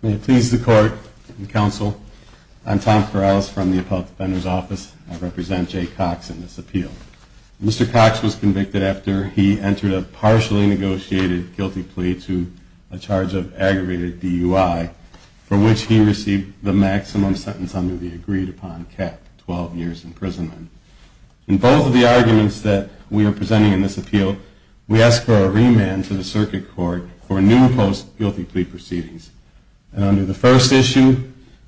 May it please the Court and Council, I am Tom Corrales from the Appellant Defender's Office. I represent Jay Cox in this appeal. Mr. Cox was convicted after the he entered a partially negotiated guilty plea to a charge of aggravated DUI, for which he received the maximum sentence under the agreed-upon cap, 12 years imprisonment. In both of the arguments that we are presenting in this appeal, we ask for a remand to the Circuit Court for new post-guilty plea proceedings. Under the first issue,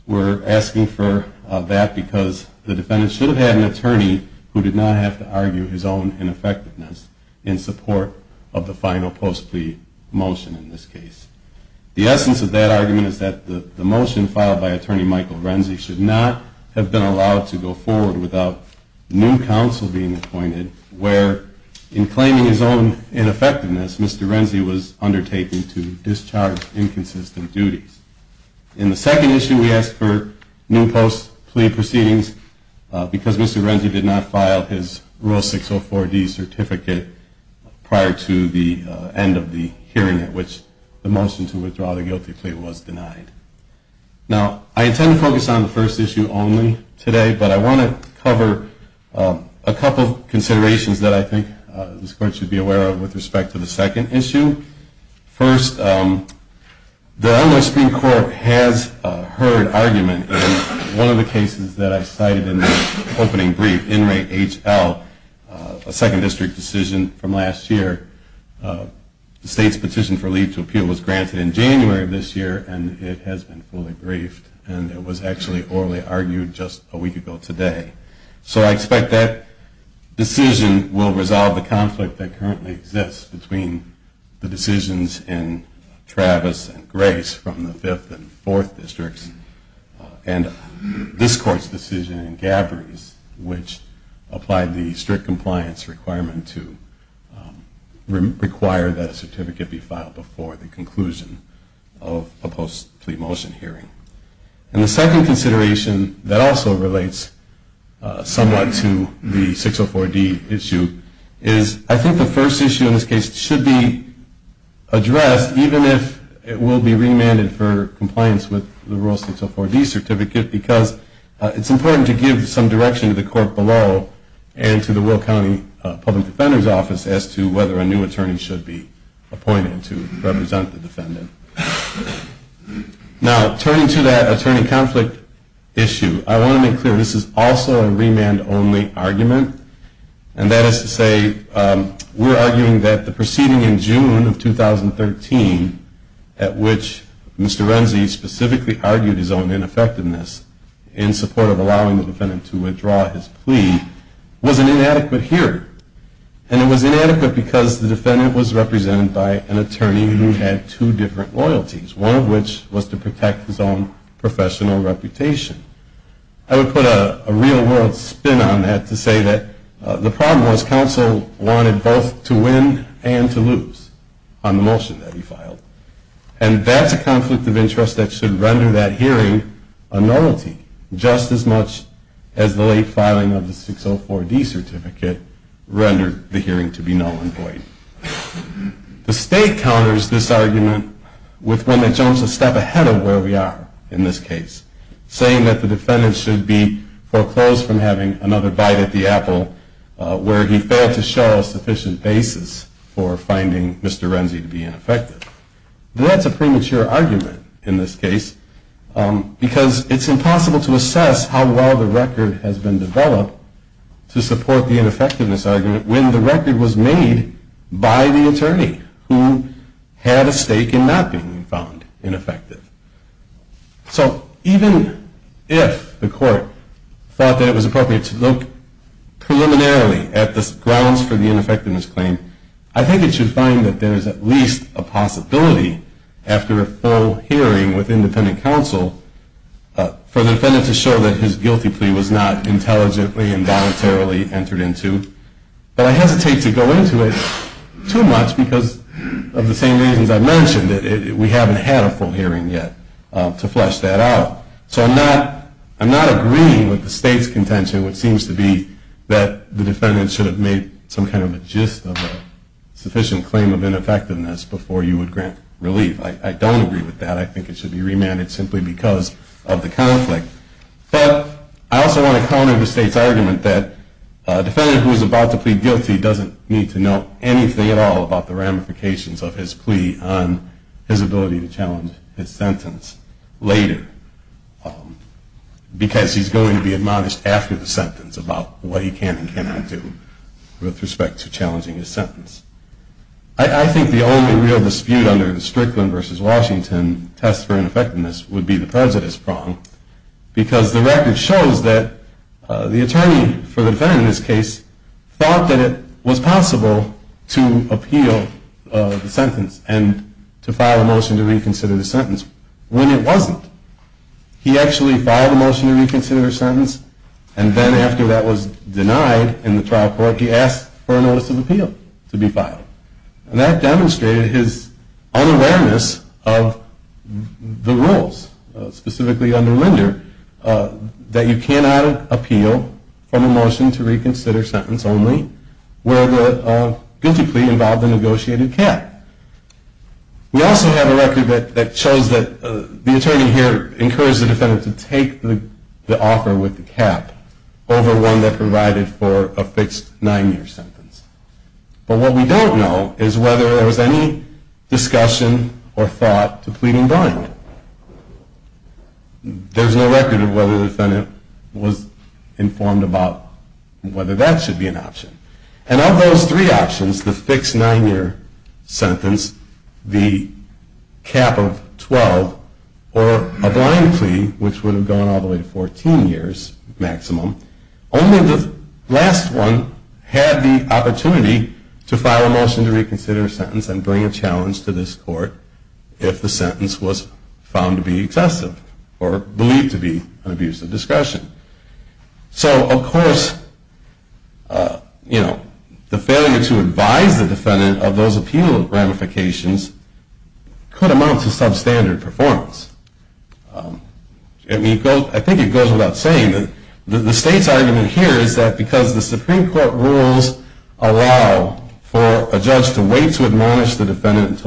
we are asking for that because the defendant should have had an attorney who did not have to argue his own ineffectiveness in support of the final post-plea motion in this case. The essence of that argument is that the motion filed by Attorney Michael Renzi should not have been allowed to go forward without new counsel being appointed where, in claiming his own ineffectiveness, Mr. Renzi was undertaking to discharge inconsistent duties. In the second issue, we ask for new post-plea proceedings because Mr. Renzi did not file his Rule 604D certificate prior to the end of the hearing at which the motion to withdraw the guilty plea was denied. Now, I intend to focus on the first issue only today, but I want to cover a couple of considerations that I think this Court should be aware of with respect to the second issue. First, the Illinois Supreme Court has heard argument in one of the cases that I cited in the opening brief, In Re HL, a Second District decision from last year. The State's petition for leave to appeal was granted in January of this year and it has been fully briefed and it was actually orally argued just a week ago today. So I expect that decision will resolve the conflict that currently exists between the decisions in Travis and Grace from the 5th and 4th Districts and this Court's decision in that a certificate be filed before the conclusion of a post-plea motion hearing. And the second consideration that also relates somewhat to the 604D issue is I think the first issue in this case should be addressed even if it will be remanded for compliance with the Rule 604D certificate because it's important to give some direction to the Court below and to the Will County Public Defender's Office as to whether a new attorney should be appointed to represent the defendant. Now, turning to that attorney conflict issue, I want to make clear this is also a remand-only argument and that is to say we're arguing that the proceeding in June of 2013 at which Mr. Renzi specifically argued his own ineffectiveness in support of allowing the defendant to withdraw his plea was an inadequate hearing. And it was inadequate because the defendant was represented by an attorney who had two different loyalties, one of which was to protect his own professional reputation. I would put a real-world spin on that to say that the problem was counsel wanted both to win and to lose on the motion that he filed. And that's a conflict of interest that should render that hearing a nullity just as much as the late filing of the 604D certificate rendered the hearing to be null and void. The State counters this argument with one that jumps a step ahead of where we are in this case, saying that the defendant should be foreclosed from having another bite at the apple where he failed to show a sufficient basis for finding Mr. Renzi to be ineffective. That's a premature argument in this case because it's impossible to assess how well the record has been developed to support the ineffectiveness argument when the record was made by the attorney who had a stake in not being found ineffective. So even if the court thought that it was appropriate to look preliminarily at the grounds for the ineffectiveness claim, I think it should find that there is at least a possibility after a full hearing with independent counsel for the defendant to show that his guilty plea was not intelligently and voluntarily entered into. But I hesitate to go into it too much because of the same reasons I mentioned. We haven't had a full hearing yet to flesh that out. So I'm not agreeing with the State's contention, which seems to be that the defendant should have made some kind of a gist of a sufficient claim of ineffectiveness before you would grant relief. I don't agree with that. I think it should be remanded simply because of the conflict. But I also want to counter the State's argument that a defendant who is about to plead guilty doesn't need to know anything at all about the ramifications of his plea on his ability to challenge his sentence later because he's going to be admonished after the sentence about what he can and cannot do with respect to challenging his sentence. I think the only real dispute under the Strickland v. Washington test for ineffectiveness would be the prejudice prong because the record shows that the attorney for the defendant in this case thought that it was possible to appeal the sentence and to file a motion to reconsider the sentence when it wasn't. He actually filed a motion to reconsider his sentence, and then after that was denied in the trial court, he asked for a notice of appeal to be filed. And that demonstrated his unawareness of the rules, specifically under Linder, that you cannot appeal from a motion to reconsider sentence only where the guilty plea involved a negotiated cap. We also have a record that shows that the attorney here encouraged the defendant to take the offer with the cap over one that provided for a fixed nine-year sentence. But what we don't know is whether there was any discussion or thought to plead in blind. There's no record of whether the defendant was informed about whether that should be an option. And of those three options, the fixed nine-year sentence, the cap of 12, or a blind plea, which would have gone all the way to 14 years maximum, only the last one had the opportunity to file a motion to reconsider a sentence and bring a challenge to this court if the sentence was found to be excessive or believed to be an abuse of discussion. So, of course, the failure to advise the defendant of those appeal ramifications could amount to substandard performance. I think it goes without saying that the state's argument here is that because the Supreme Court rules allow for a judge to wait to admonish the defendant, it's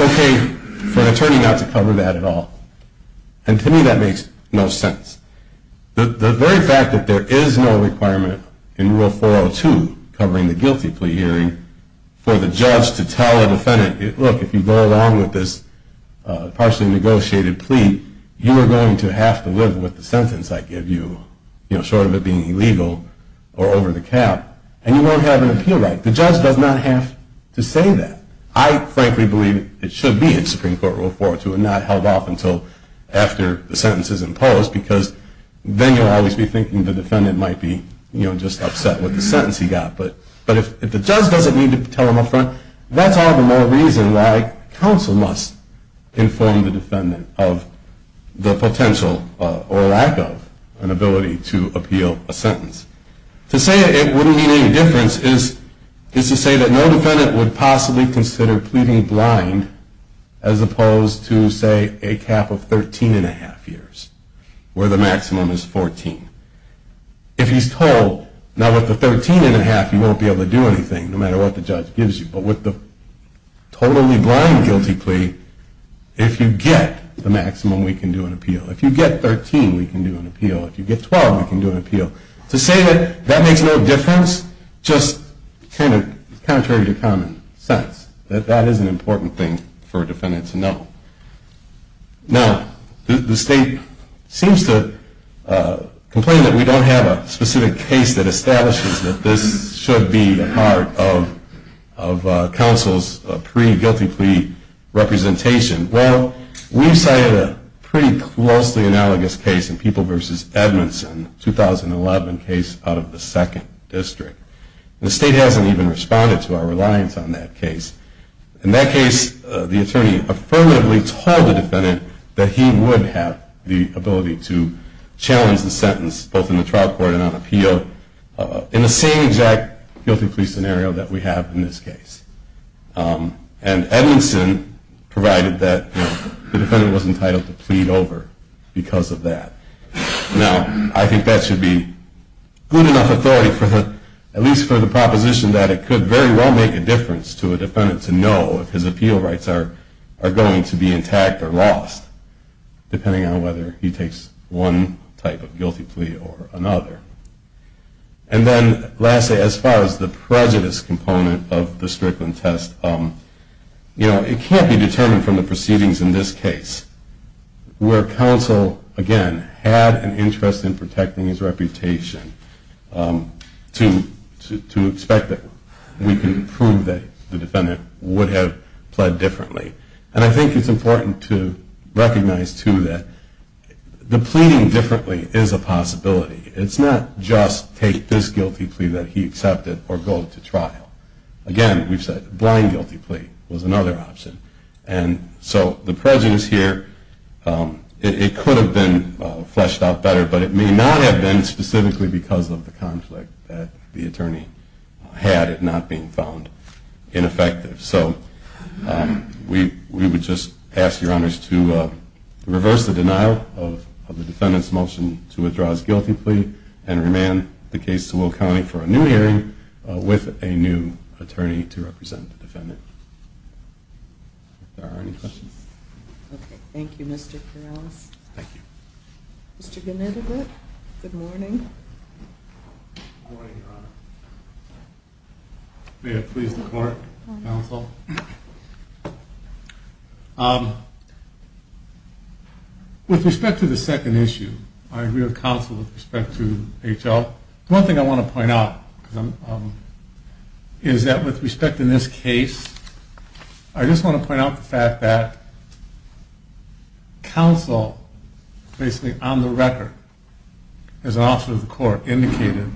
okay for an attorney not to cover that at all. And to me, that makes no sense. The very fact that there is no requirement in Rule 402 covering the guilty plea hearing for the judge to tell a defendant, look, if you go along with this partially negotiated plea, you are going to have to live with the sentence I give you, short of it being illegal or over the cap, and you won't have an appeal right. The judge does not have to say that. I frankly believe it should be in Supreme Court Rule 402 and not held off until after the sentence is imposed, because then you'll always be thinking the defendant might be just upset with the sentence he got. But if the judge doesn't need to tell him up front, that's all the more reason why counsel must inform the defendant of the potential or lack of an ability to appeal a sentence. To say it wouldn't mean any difference is to say that no defendant would possibly consider pleading blind as opposed to, say, a cap of 13 1⁄2 years, where the maximum is 14. If he's told, now with the 13 1⁄2, you won't be able to do anything, no matter what the judge gives you. But with the totally blind guilty plea, if you get the maximum, we can do an appeal. If you get 13, we can do an appeal. If you get 12, we can do an appeal. To say that that makes no difference, just kind of contrary to common sense, that that is an important thing for a defendant to know. Now, the state seems to complain that we don't have a specific case that establishes that this should be a part of counsel's pre-guilty plea representation. Well, we've cited a pretty closely analogous case in People v. Edmondson, a 2011 case out of the 2nd District. The state hasn't even responded to our reliance on that case. In that case, the attorney affirmatively told the defendant that he would have the ability to challenge the sentence, both in the trial court and on appeal, in the same exact guilty plea scenario that we have in this case. And Edmondson provided that the defendant was entitled to plead over because of that. Now, I think that should be good enough authority, at least for the proposition that it could very well make a difference to a defendant to know if his appeal rights are going to be intact or lost, depending on whether he takes one type of guilty plea or another. And then, lastly, as far as the prejudice component of the Strickland test, it can't be determined from the proceedings in this case where counsel, again, had an interest in protecting his reputation to expect that we can prove that the defendant would have pled differently. And I think it's important to recognize, too, that the pleading differently is a possibility. It's not just take this guilty plea that he accepted or go to trial. Again, we've said blind guilty plea was another option. And so the prejudice here, it could have been fleshed out better, but it may not have been specifically because of the conflict that the attorney had it not being found ineffective. So we would just ask your honors to reverse the denial of the defendant's motion to withdraw his guilty plea and remand the case to Will County for a new hearing with a new attorney to represent the defendant. If there are any questions. Okay. Thank you, Mr. Corrales. Thank you. Mr. Gnidovich, good morning. Good morning, Your Honor. May it please the court, counsel. With respect to the second issue, I agree with counsel with respect to H.L. One thing I want to point out is that with respect in this case, I just want to point out the fact that counsel, basically on the record, as an officer of the court, indicated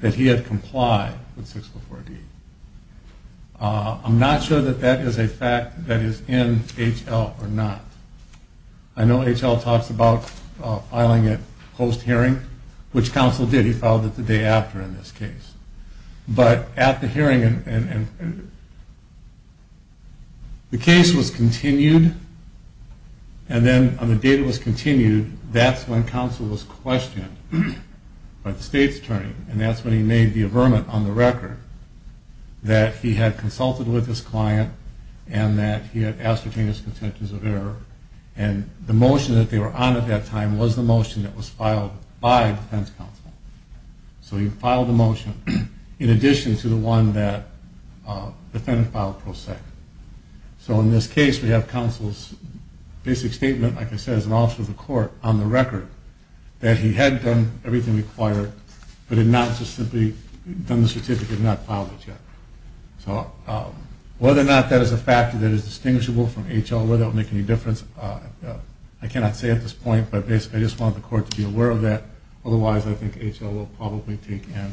that he had complied with 604D. I'm not sure that that is a fact that is in H.L. or not. I know H.L. talks about filing it post-hearing, which counsel did. He filed it the day after in this case. But at the hearing, the case was continued, and then on the day it was continued, that's when counsel was questioned by the state's attorney, and that's when he made the affirmation on the record that he had consulted with his client and that he had ascertained his contentions of error. And the motion that they were on at that time was the motion that was filed by defense counsel. So he filed the motion in addition to the one that defendant filed pro sec. So in this case, we have counsel's basic statement, like I said, as an officer of the court on the record that he had done everything required, but had not just simply done the certificate and not filed it yet. So whether or not that is a fact that is distinguishable from H.L., whether that will make any difference, I cannot say at this point, but basically I just want the court to be aware of that. Otherwise, I think H.L. will probably take and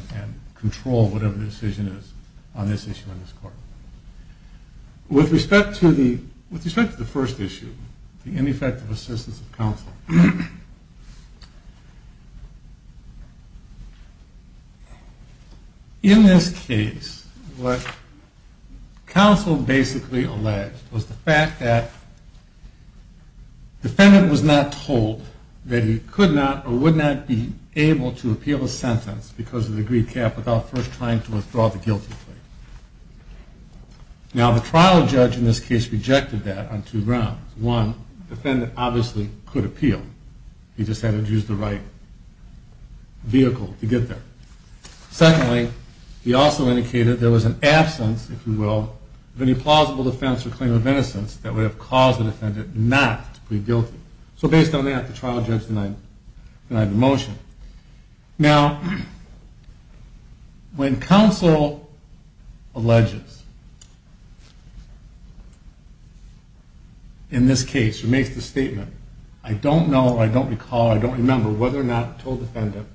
control whatever the decision is on this issue in this court. With respect to the first issue, the ineffective assistance of counsel, in this case, what counsel basically alleged was the fact that the defendant was not told that he could not or would not be able to appeal a sentence because of the greed cap without first trying to withdraw the guilty plea. Now, the trial judge in this case rejected that on two grounds. One, the defendant obviously could appeal. He just had to use the right vehicle to get there. Secondly, he also indicated there was an absence, if you will, of any plausible defense or claim of innocence that would have caused the defendant not to plead guilty. So based on that, the trial judge denied the motion. Now, when counsel alleges, in this case, or makes the statement, I don't know, I don't recall, I don't remember whether or not I told the defendant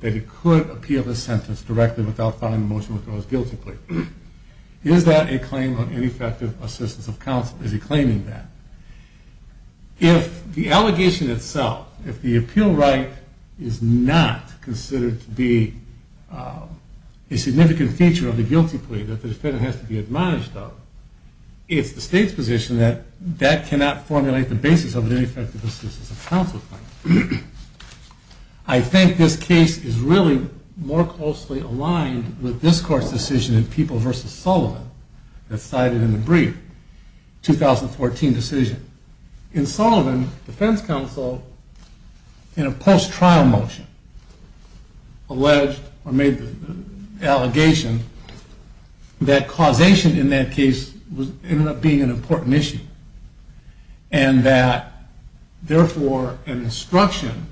that he could appeal the sentence directly without filing the motion to withdraw his guilty plea, is that a claim of ineffective assistance of counsel? Is he claiming that? If the allegation itself, if the appeal right is not considered to be a significant feature of the guilty plea that the defendant has to be admonished of, it's the state's position that that cannot formulate the basis of an ineffective assistance of counsel claim. I think this case is really more closely aligned with this court's decision in People v. Sullivan that's cited in the brief, 2014 decision. In Sullivan, the defense counsel, in a post-trial motion, alleged or made the allegation that causation in that case ended up being an important issue and that, therefore, an instruction,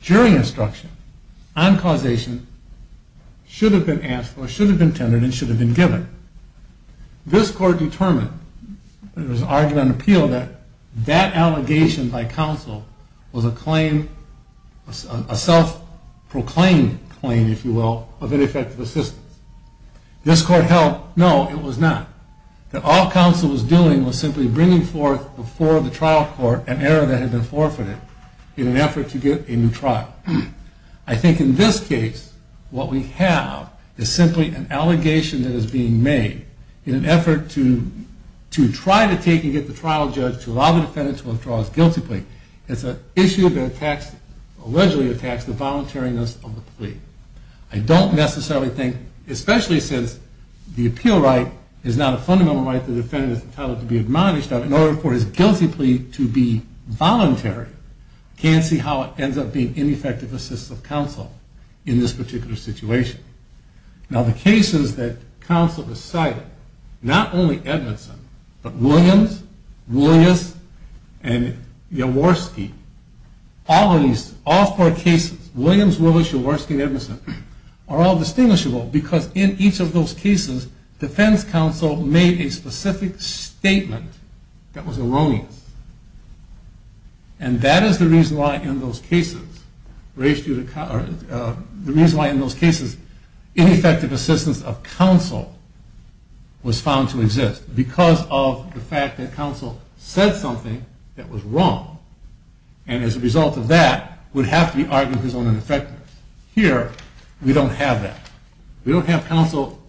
jury instruction, on causation, should have been asked for, should have been tended, and should have been given. This court determined, it was argued on appeal, that that allegation by counsel was a claim, a self-proclaimed claim, if you will, of ineffective assistance. This court held, no, it was not. That all counsel was doing was simply bringing forth before the trial court an error that had been forfeited in an effort to get a new trial. I think in this case, what we have is simply an allegation that is being made in an effort to try to take and get the trial judge to allow the defendant to withdraw his guilty plea. It's an issue that allegedly attacks the voluntariness of the plea. I don't necessarily think, especially since the appeal right is not a fundamental right, the defendant is entitled to be admonished in order for his guilty plea to be voluntary. I can't see how it ends up being ineffective assistance of counsel in this particular situation. Now, the cases that counsel decided, not only Edmondson, but Williams, Williams, and Jaworski, all four cases, Williams, Williams, Jaworski, and Edmondson, are all distinguishable because in each of those cases defense counsel made a specific statement that was erroneous. And that is the reason why in those cases ineffective assistance of counsel was found to exist. Because of the fact that counsel said something that was wrong, and as a result of that would have to be argued as ineffective. Here, we don't have that. We don't have counsel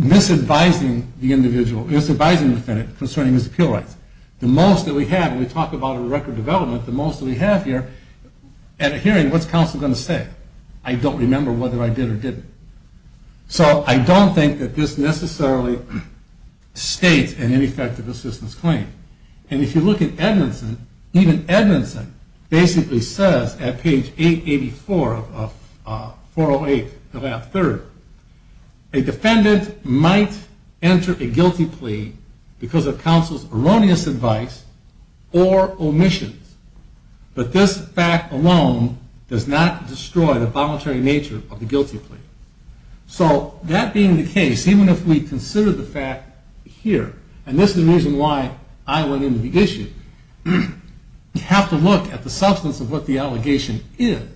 misadvising the defendant concerning his appeal rights. The most that we have, and we talk about it in record development, the most that we have here at a hearing, what's counsel going to say? I don't remember whether I did or didn't. So I don't think that this necessarily states an ineffective assistance claim. And if you look at Edmondson, even Edmondson basically says at page 884 of 408, the last third, a defendant might enter a guilty plea because of counsel's erroneous advice or omissions. But this fact alone does not destroy the voluntary nature of the guilty plea. So that being the case, even if we consider the fact here, and this is the reason why I went into the issue, you have to look at the substance of what the allegation is.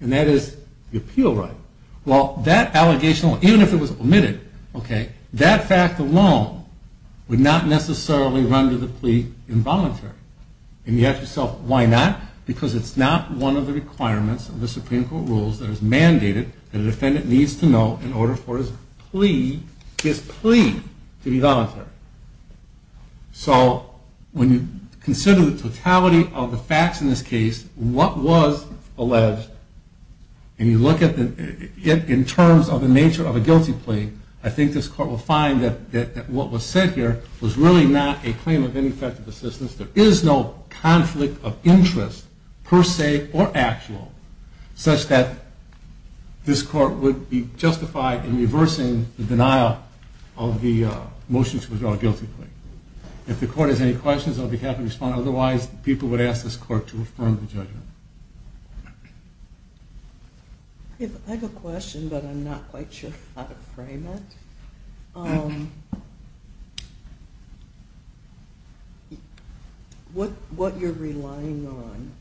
And that is the appeal right. Well, that allegation, even if it was omitted, that fact alone would not necessarily render the plea involuntary. And you ask yourself, why not? Because it's not one of the requirements of the Supreme Court rules that is mandated that a defendant needs to know in order for his plea to be voluntary. So when you consider the totality of the facts in this case, what was alleged, and you look at it in terms of the nature of a guilty plea, I think this Court will find that what was said here was really not a claim of ineffective assistance. There is no conflict of interest, per se or actual, such that this Court would be justified in reversing the denial of the motion to withdraw a guilty plea. If the Court has any questions, I'll be happy to respond. Otherwise, people would ask this Court to affirm the judgment. I have a question, but I'm not quite sure how to frame it. What you're relying on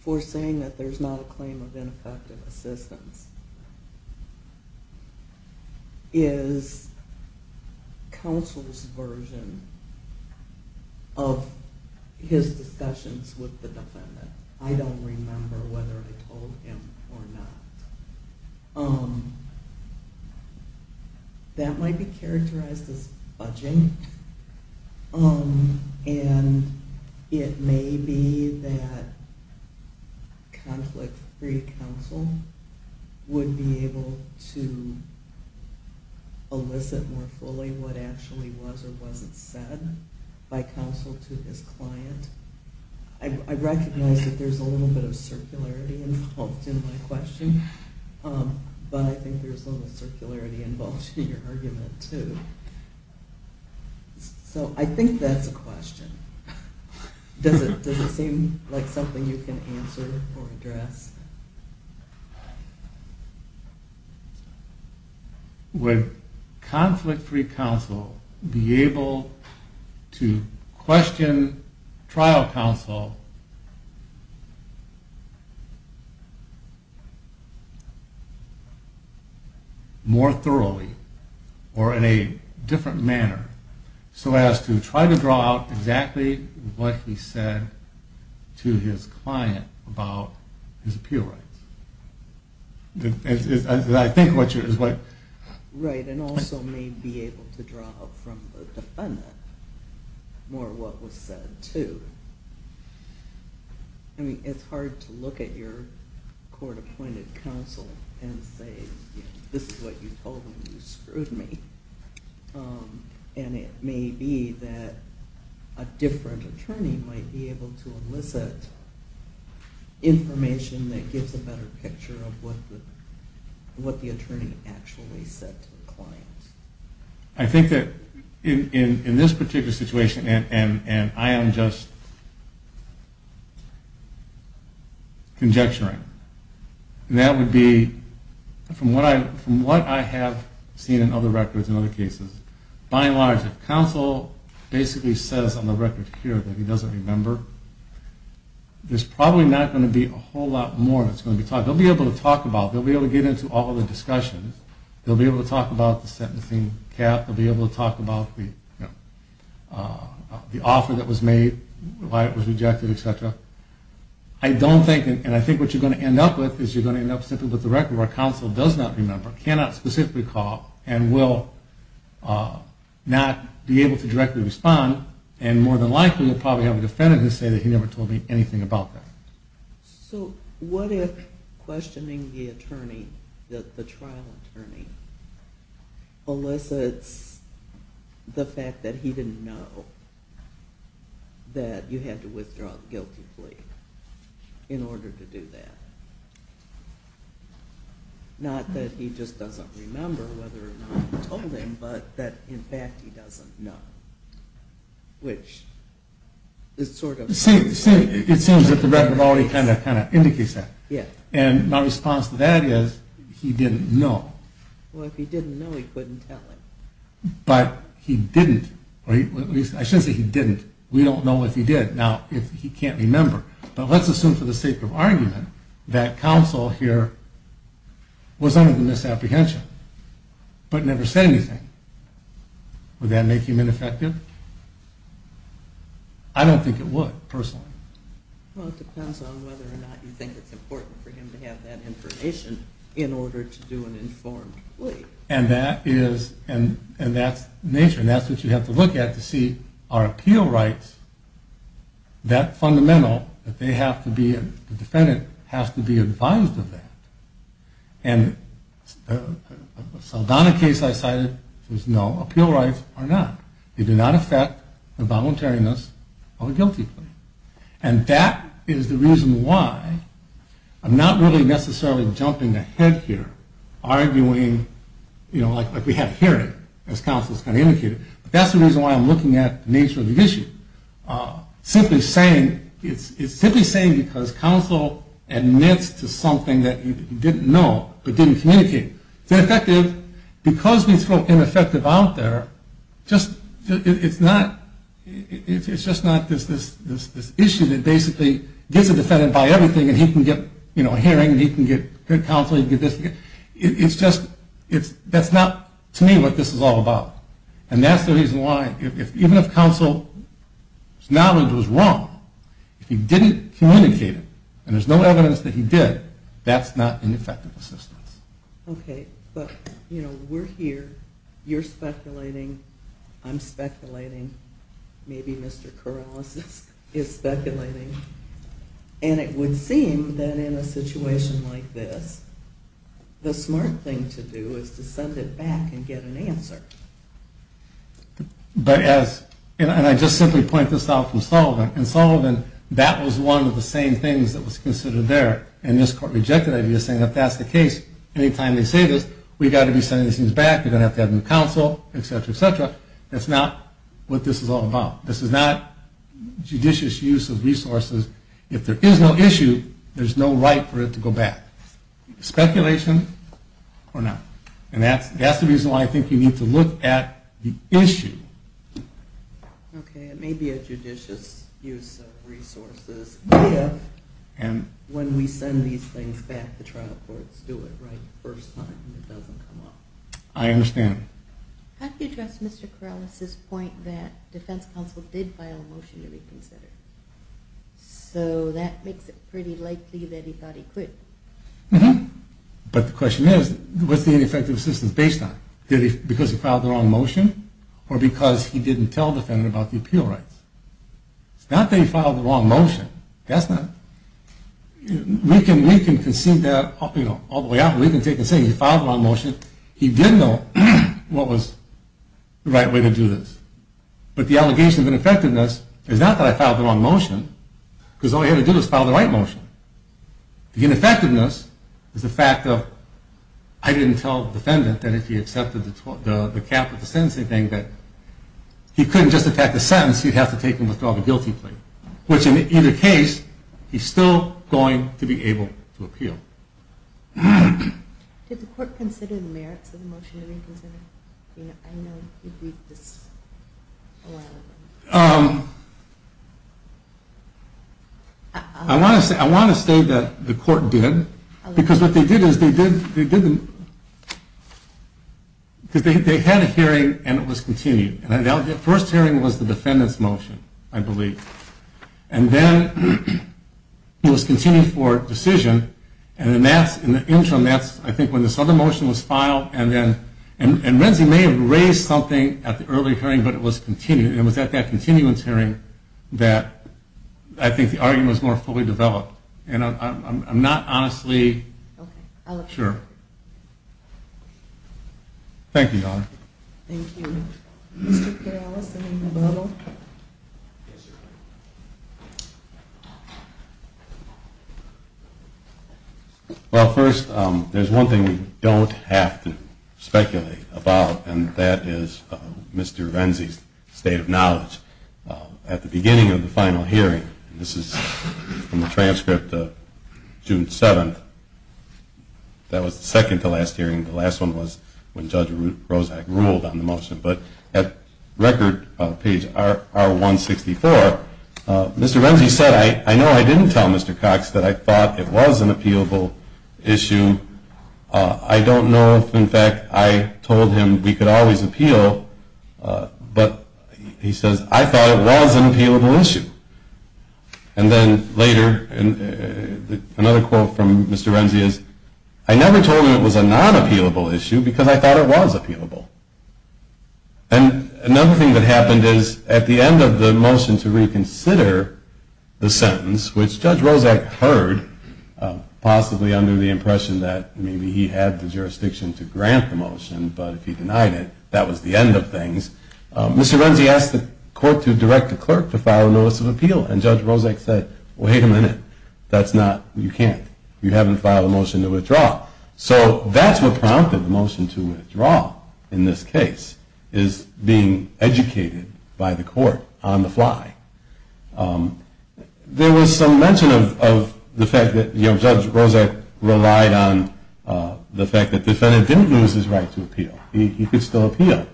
for saying that there's not a claim of ineffective assistance is counsel's version of his discussions with the defendant. I don't remember whether I told him or not. That might be characterized as budging, and it may be that conflict-free counsel would be able to elicit more fully what actually was or wasn't said by counsel to his client. I recognize that there's a little bit of circularity involved in my question, but I think there's a little circularity involved in your argument, too. So I think that's a question. Does it seem like something you can answer or address? Would conflict-free counsel be able to question trial counsel more thoroughly or in a different manner so as to try to draw out exactly what he said to his client about his appeal? Right, and also may be able to draw out from the defendant more what was said, too. I mean, it's hard to look at your court-appointed counsel and say, this is what you told him, you screwed me. And it may be that a different attorney might be able to elicit information that gives a better picture of what the attorney actually said to the client. I think that in this particular situation, and I am just conjecturing, that would be from what I have seen in other records in other cases, by and large if counsel basically says on the record here that he doesn't remember, there's probably not going to be a whole lot more that's going to be talked about. They'll be able to talk about it. They'll be able to get into all the discussions. They'll be able to talk about the sentencing cap. They'll be able to talk about the offer that was made, why it was rejected, etc. I don't think, and I think what you're going to end up with is you're going to end up simply with the record where counsel does not remember, cannot specifically call, and will not be able to directly respond, and more than likely will probably have a defendant say that he never told me anything about that. So what if questioning the attorney, the trial attorney, elicits the fact that he didn't know that you had to withdraw the guilty plea in order to do that? Not that he just doesn't remember whether or not you told him, but that in fact he doesn't know, which is sort of... See, it seems that the record already kind of indicates that. Yeah. And my response to that is he didn't know. Well, if he didn't know, he couldn't tell him. But he didn't. I shouldn't say he didn't. We don't know if he did. Now, if he can't remember. But let's assume for the sake of argument that counsel here was under the misapprehension, but never said anything. Would that make him ineffective? I don't think it would, personally. Well, it depends on whether or not you think it's important for him to have that information in order to do an informed plea. And that's nature, and that's what you have to look at to see are appeal rights that fundamental that the defendant has to be advised of that. And the Saldana case I cited says no, appeal rights are not. They do not affect the voluntariness of a guilty plea. And that is the reason why I'm not really necessarily jumping ahead here, arguing like we had a hearing, as counsel has kind of indicated. But that's the reason why I'm looking at the nature of the issue. Simply saying it's simply saying because counsel admits to something that you didn't know, but didn't communicate. It's ineffective. Because we throw ineffective out there, it's just not this issue that basically gets the defendant by everything, and he can get a hearing, and he can get counsel, he can get this. It's just that's not, to me, what this is all about. And that's the reason why, even if counsel's knowledge was wrong, if he didn't communicate it, and there's no evidence that he did, that's not an effective assistance. Okay. But, you know, we're here. You're speculating. I'm speculating. Maybe Mr. Corrales is speculating. And it would seem that in a situation like this, the smart thing to do is to send it back and get an answer. But as, and I just simply point this out from Sullivan, and Sullivan, that was one of the same things that was considered there, and this court rejected that idea, saying if that's the case, any time they say this, we've got to be sending these things back, we're going to have to have new counsel, et cetera, et cetera. That's not what this is all about. This is not judicious use of resources. If there is no issue, there's no right for it to go back. Speculation or not. And that's the reason why I think you need to look at the issue. Okay. It may be a judicious use of resources if, when we send these things back, the trial courts do it right the first time and it doesn't come up. I understand. How do you address Mr. Corrales's point that defense counsel did file a motion to reconsider? So that makes it pretty likely that he thought he could. But the question is, what's the ineffective assistance based on? Because he filed the wrong motion? Or because he didn't tell the defendant about the appeal rights? It's not that he filed the wrong motion. That's not. We can concede that all the way out. We can take and say he filed the wrong motion. He did know what was the right way to do this. But the allegation of ineffectiveness is not that I filed the wrong motion because all he had to do was file the right motion. The ineffectiveness is the fact that I didn't tell the defendant that if he accepted the cap of the sentencing thing that he couldn't just attack the sentence. He'd have to take and withdraw the guilty plea. Which, in either case, he's still going to be able to appeal. Did the court consider the merits of the motion to reconsider? I know you've read this a lot of times. I want to say that the court did. Because what they did is they had a hearing and it was continued. The first hearing was the defendant's motion, I believe. And then it was continued for decision. And in the interim, that's I think when this other motion was filed. And Renzi may have raised something at the early hearing, but it was continued. And it was at that continuance hearing that I think the argument was more fully developed. And I'm not honestly sure. Thank you, Your Honor. Thank you. Mr. Peralez, I mean, above all. Yes, Your Honor. Well, first, there's one thing we don't have to speculate about, and that is Mr. Renzi's state of knowledge. At the beginning of the final hearing, this is from the transcript of June 7th, that was the second-to-last hearing. The last one was when Judge Rozak ruled on the motion. But at record page R164, Mr. Renzi said, I know I didn't tell Mr. Cox that I thought it was an appealable issue. I don't know if, in fact, I told him we could always appeal. But he says, I thought it was an appealable issue. And then later, another quote from Mr. Renzi is, I never told him it was a non-appealable issue because I thought it was appealable. And another thing that happened is, at the end of the motion to reconsider the sentence, which Judge Rozak heard, possibly under the impression that maybe he had the jurisdiction to grant the motion, but if he denied it, that was the end of things, Mr. Renzi asked the court to direct the clerk to file a notice of appeal. And Judge Rozak said, wait a minute. That's not, you can't. You haven't filed a motion to withdraw. So that's what prompted the motion to withdraw in this case, is being educated by the court on the fly. There was some mention of the fact that Judge Rozak relied on the fact that the defendant didn't lose his right to appeal. He could still appeal.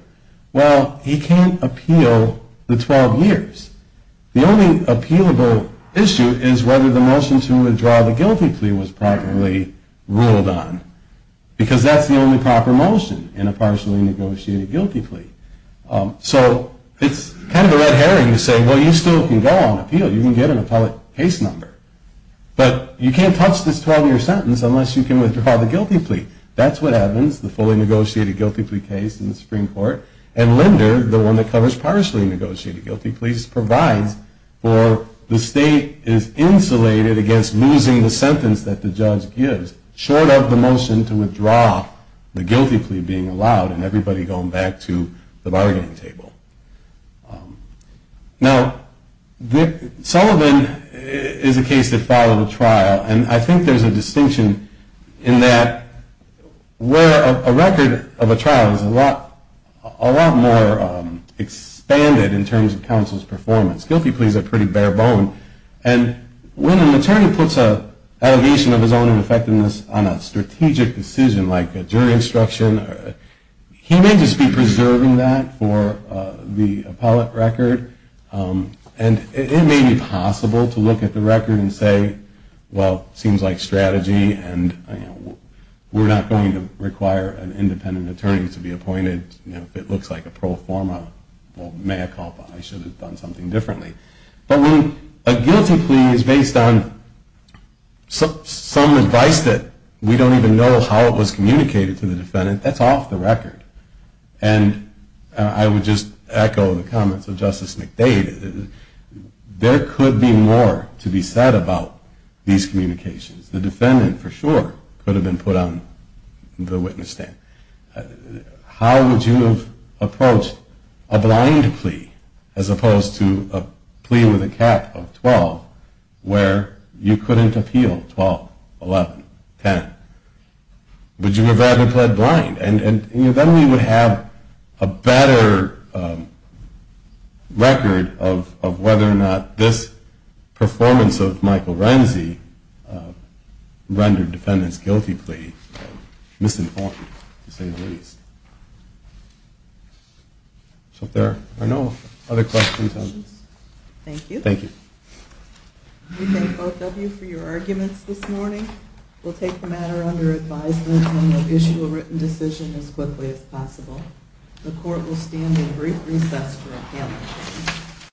Well, he can't appeal the 12 years. The only appealable issue is whether the motion to withdraw the guilty plea was properly ruled on. Because that's the only proper motion in a partially negotiated guilty plea. So it's kind of a red herring to say, well, you still can go on appeal. You can get an appellate case number. But you can't touch this 12-year sentence unless you can withdraw the guilty plea. That's what happens, the fully negotiated guilty plea case in the Supreme Court. And Linder, the one that covers partially negotiated guilty pleas, provides for the state is insulated against losing the sentence that the judge gives, short of the motion to withdraw the guilty plea being allowed and everybody going back to the bargaining table. Now, Sullivan is a case that followed a trial. And I think there's a distinction in that where a record of a trial is a lot more expanded in terms of counsel's performance. Guilty pleas are pretty bare bone. And when an attorney puts an allegation of his own ineffectiveness on a strategic decision like a jury instruction, he may just be preserving that for the appellate record. And it may be possible to look at the record and say, well, it seems like strategy and we're not going to require an independent attorney to be appointed. If it looks like a pro forma, well, mea culpa. I should have done something differently. But when a guilty plea is based on some advice that we don't even know how it was communicated to the defendant, that's off the record. And I would just echo the comments of Justice McDade. There could be more to be said about these communications. The defendant, for sure, could have been put on the witness stand. How would you have approached a blind plea as opposed to a plea with a cap of 12 where you couldn't appeal 12, 11, 10? Would you have rather pled blind? And then we would have a better record of whether or not this performance of Michael Renzi rendered defendants' guilty plea misinformed, to say the least. So if there are no other questions. Thank you. Thank you. We thank both of you for your arguments this morning. We'll take the matter under advisement and we'll issue a written decision as quickly as possible. The court will stand in brief recess for appeal.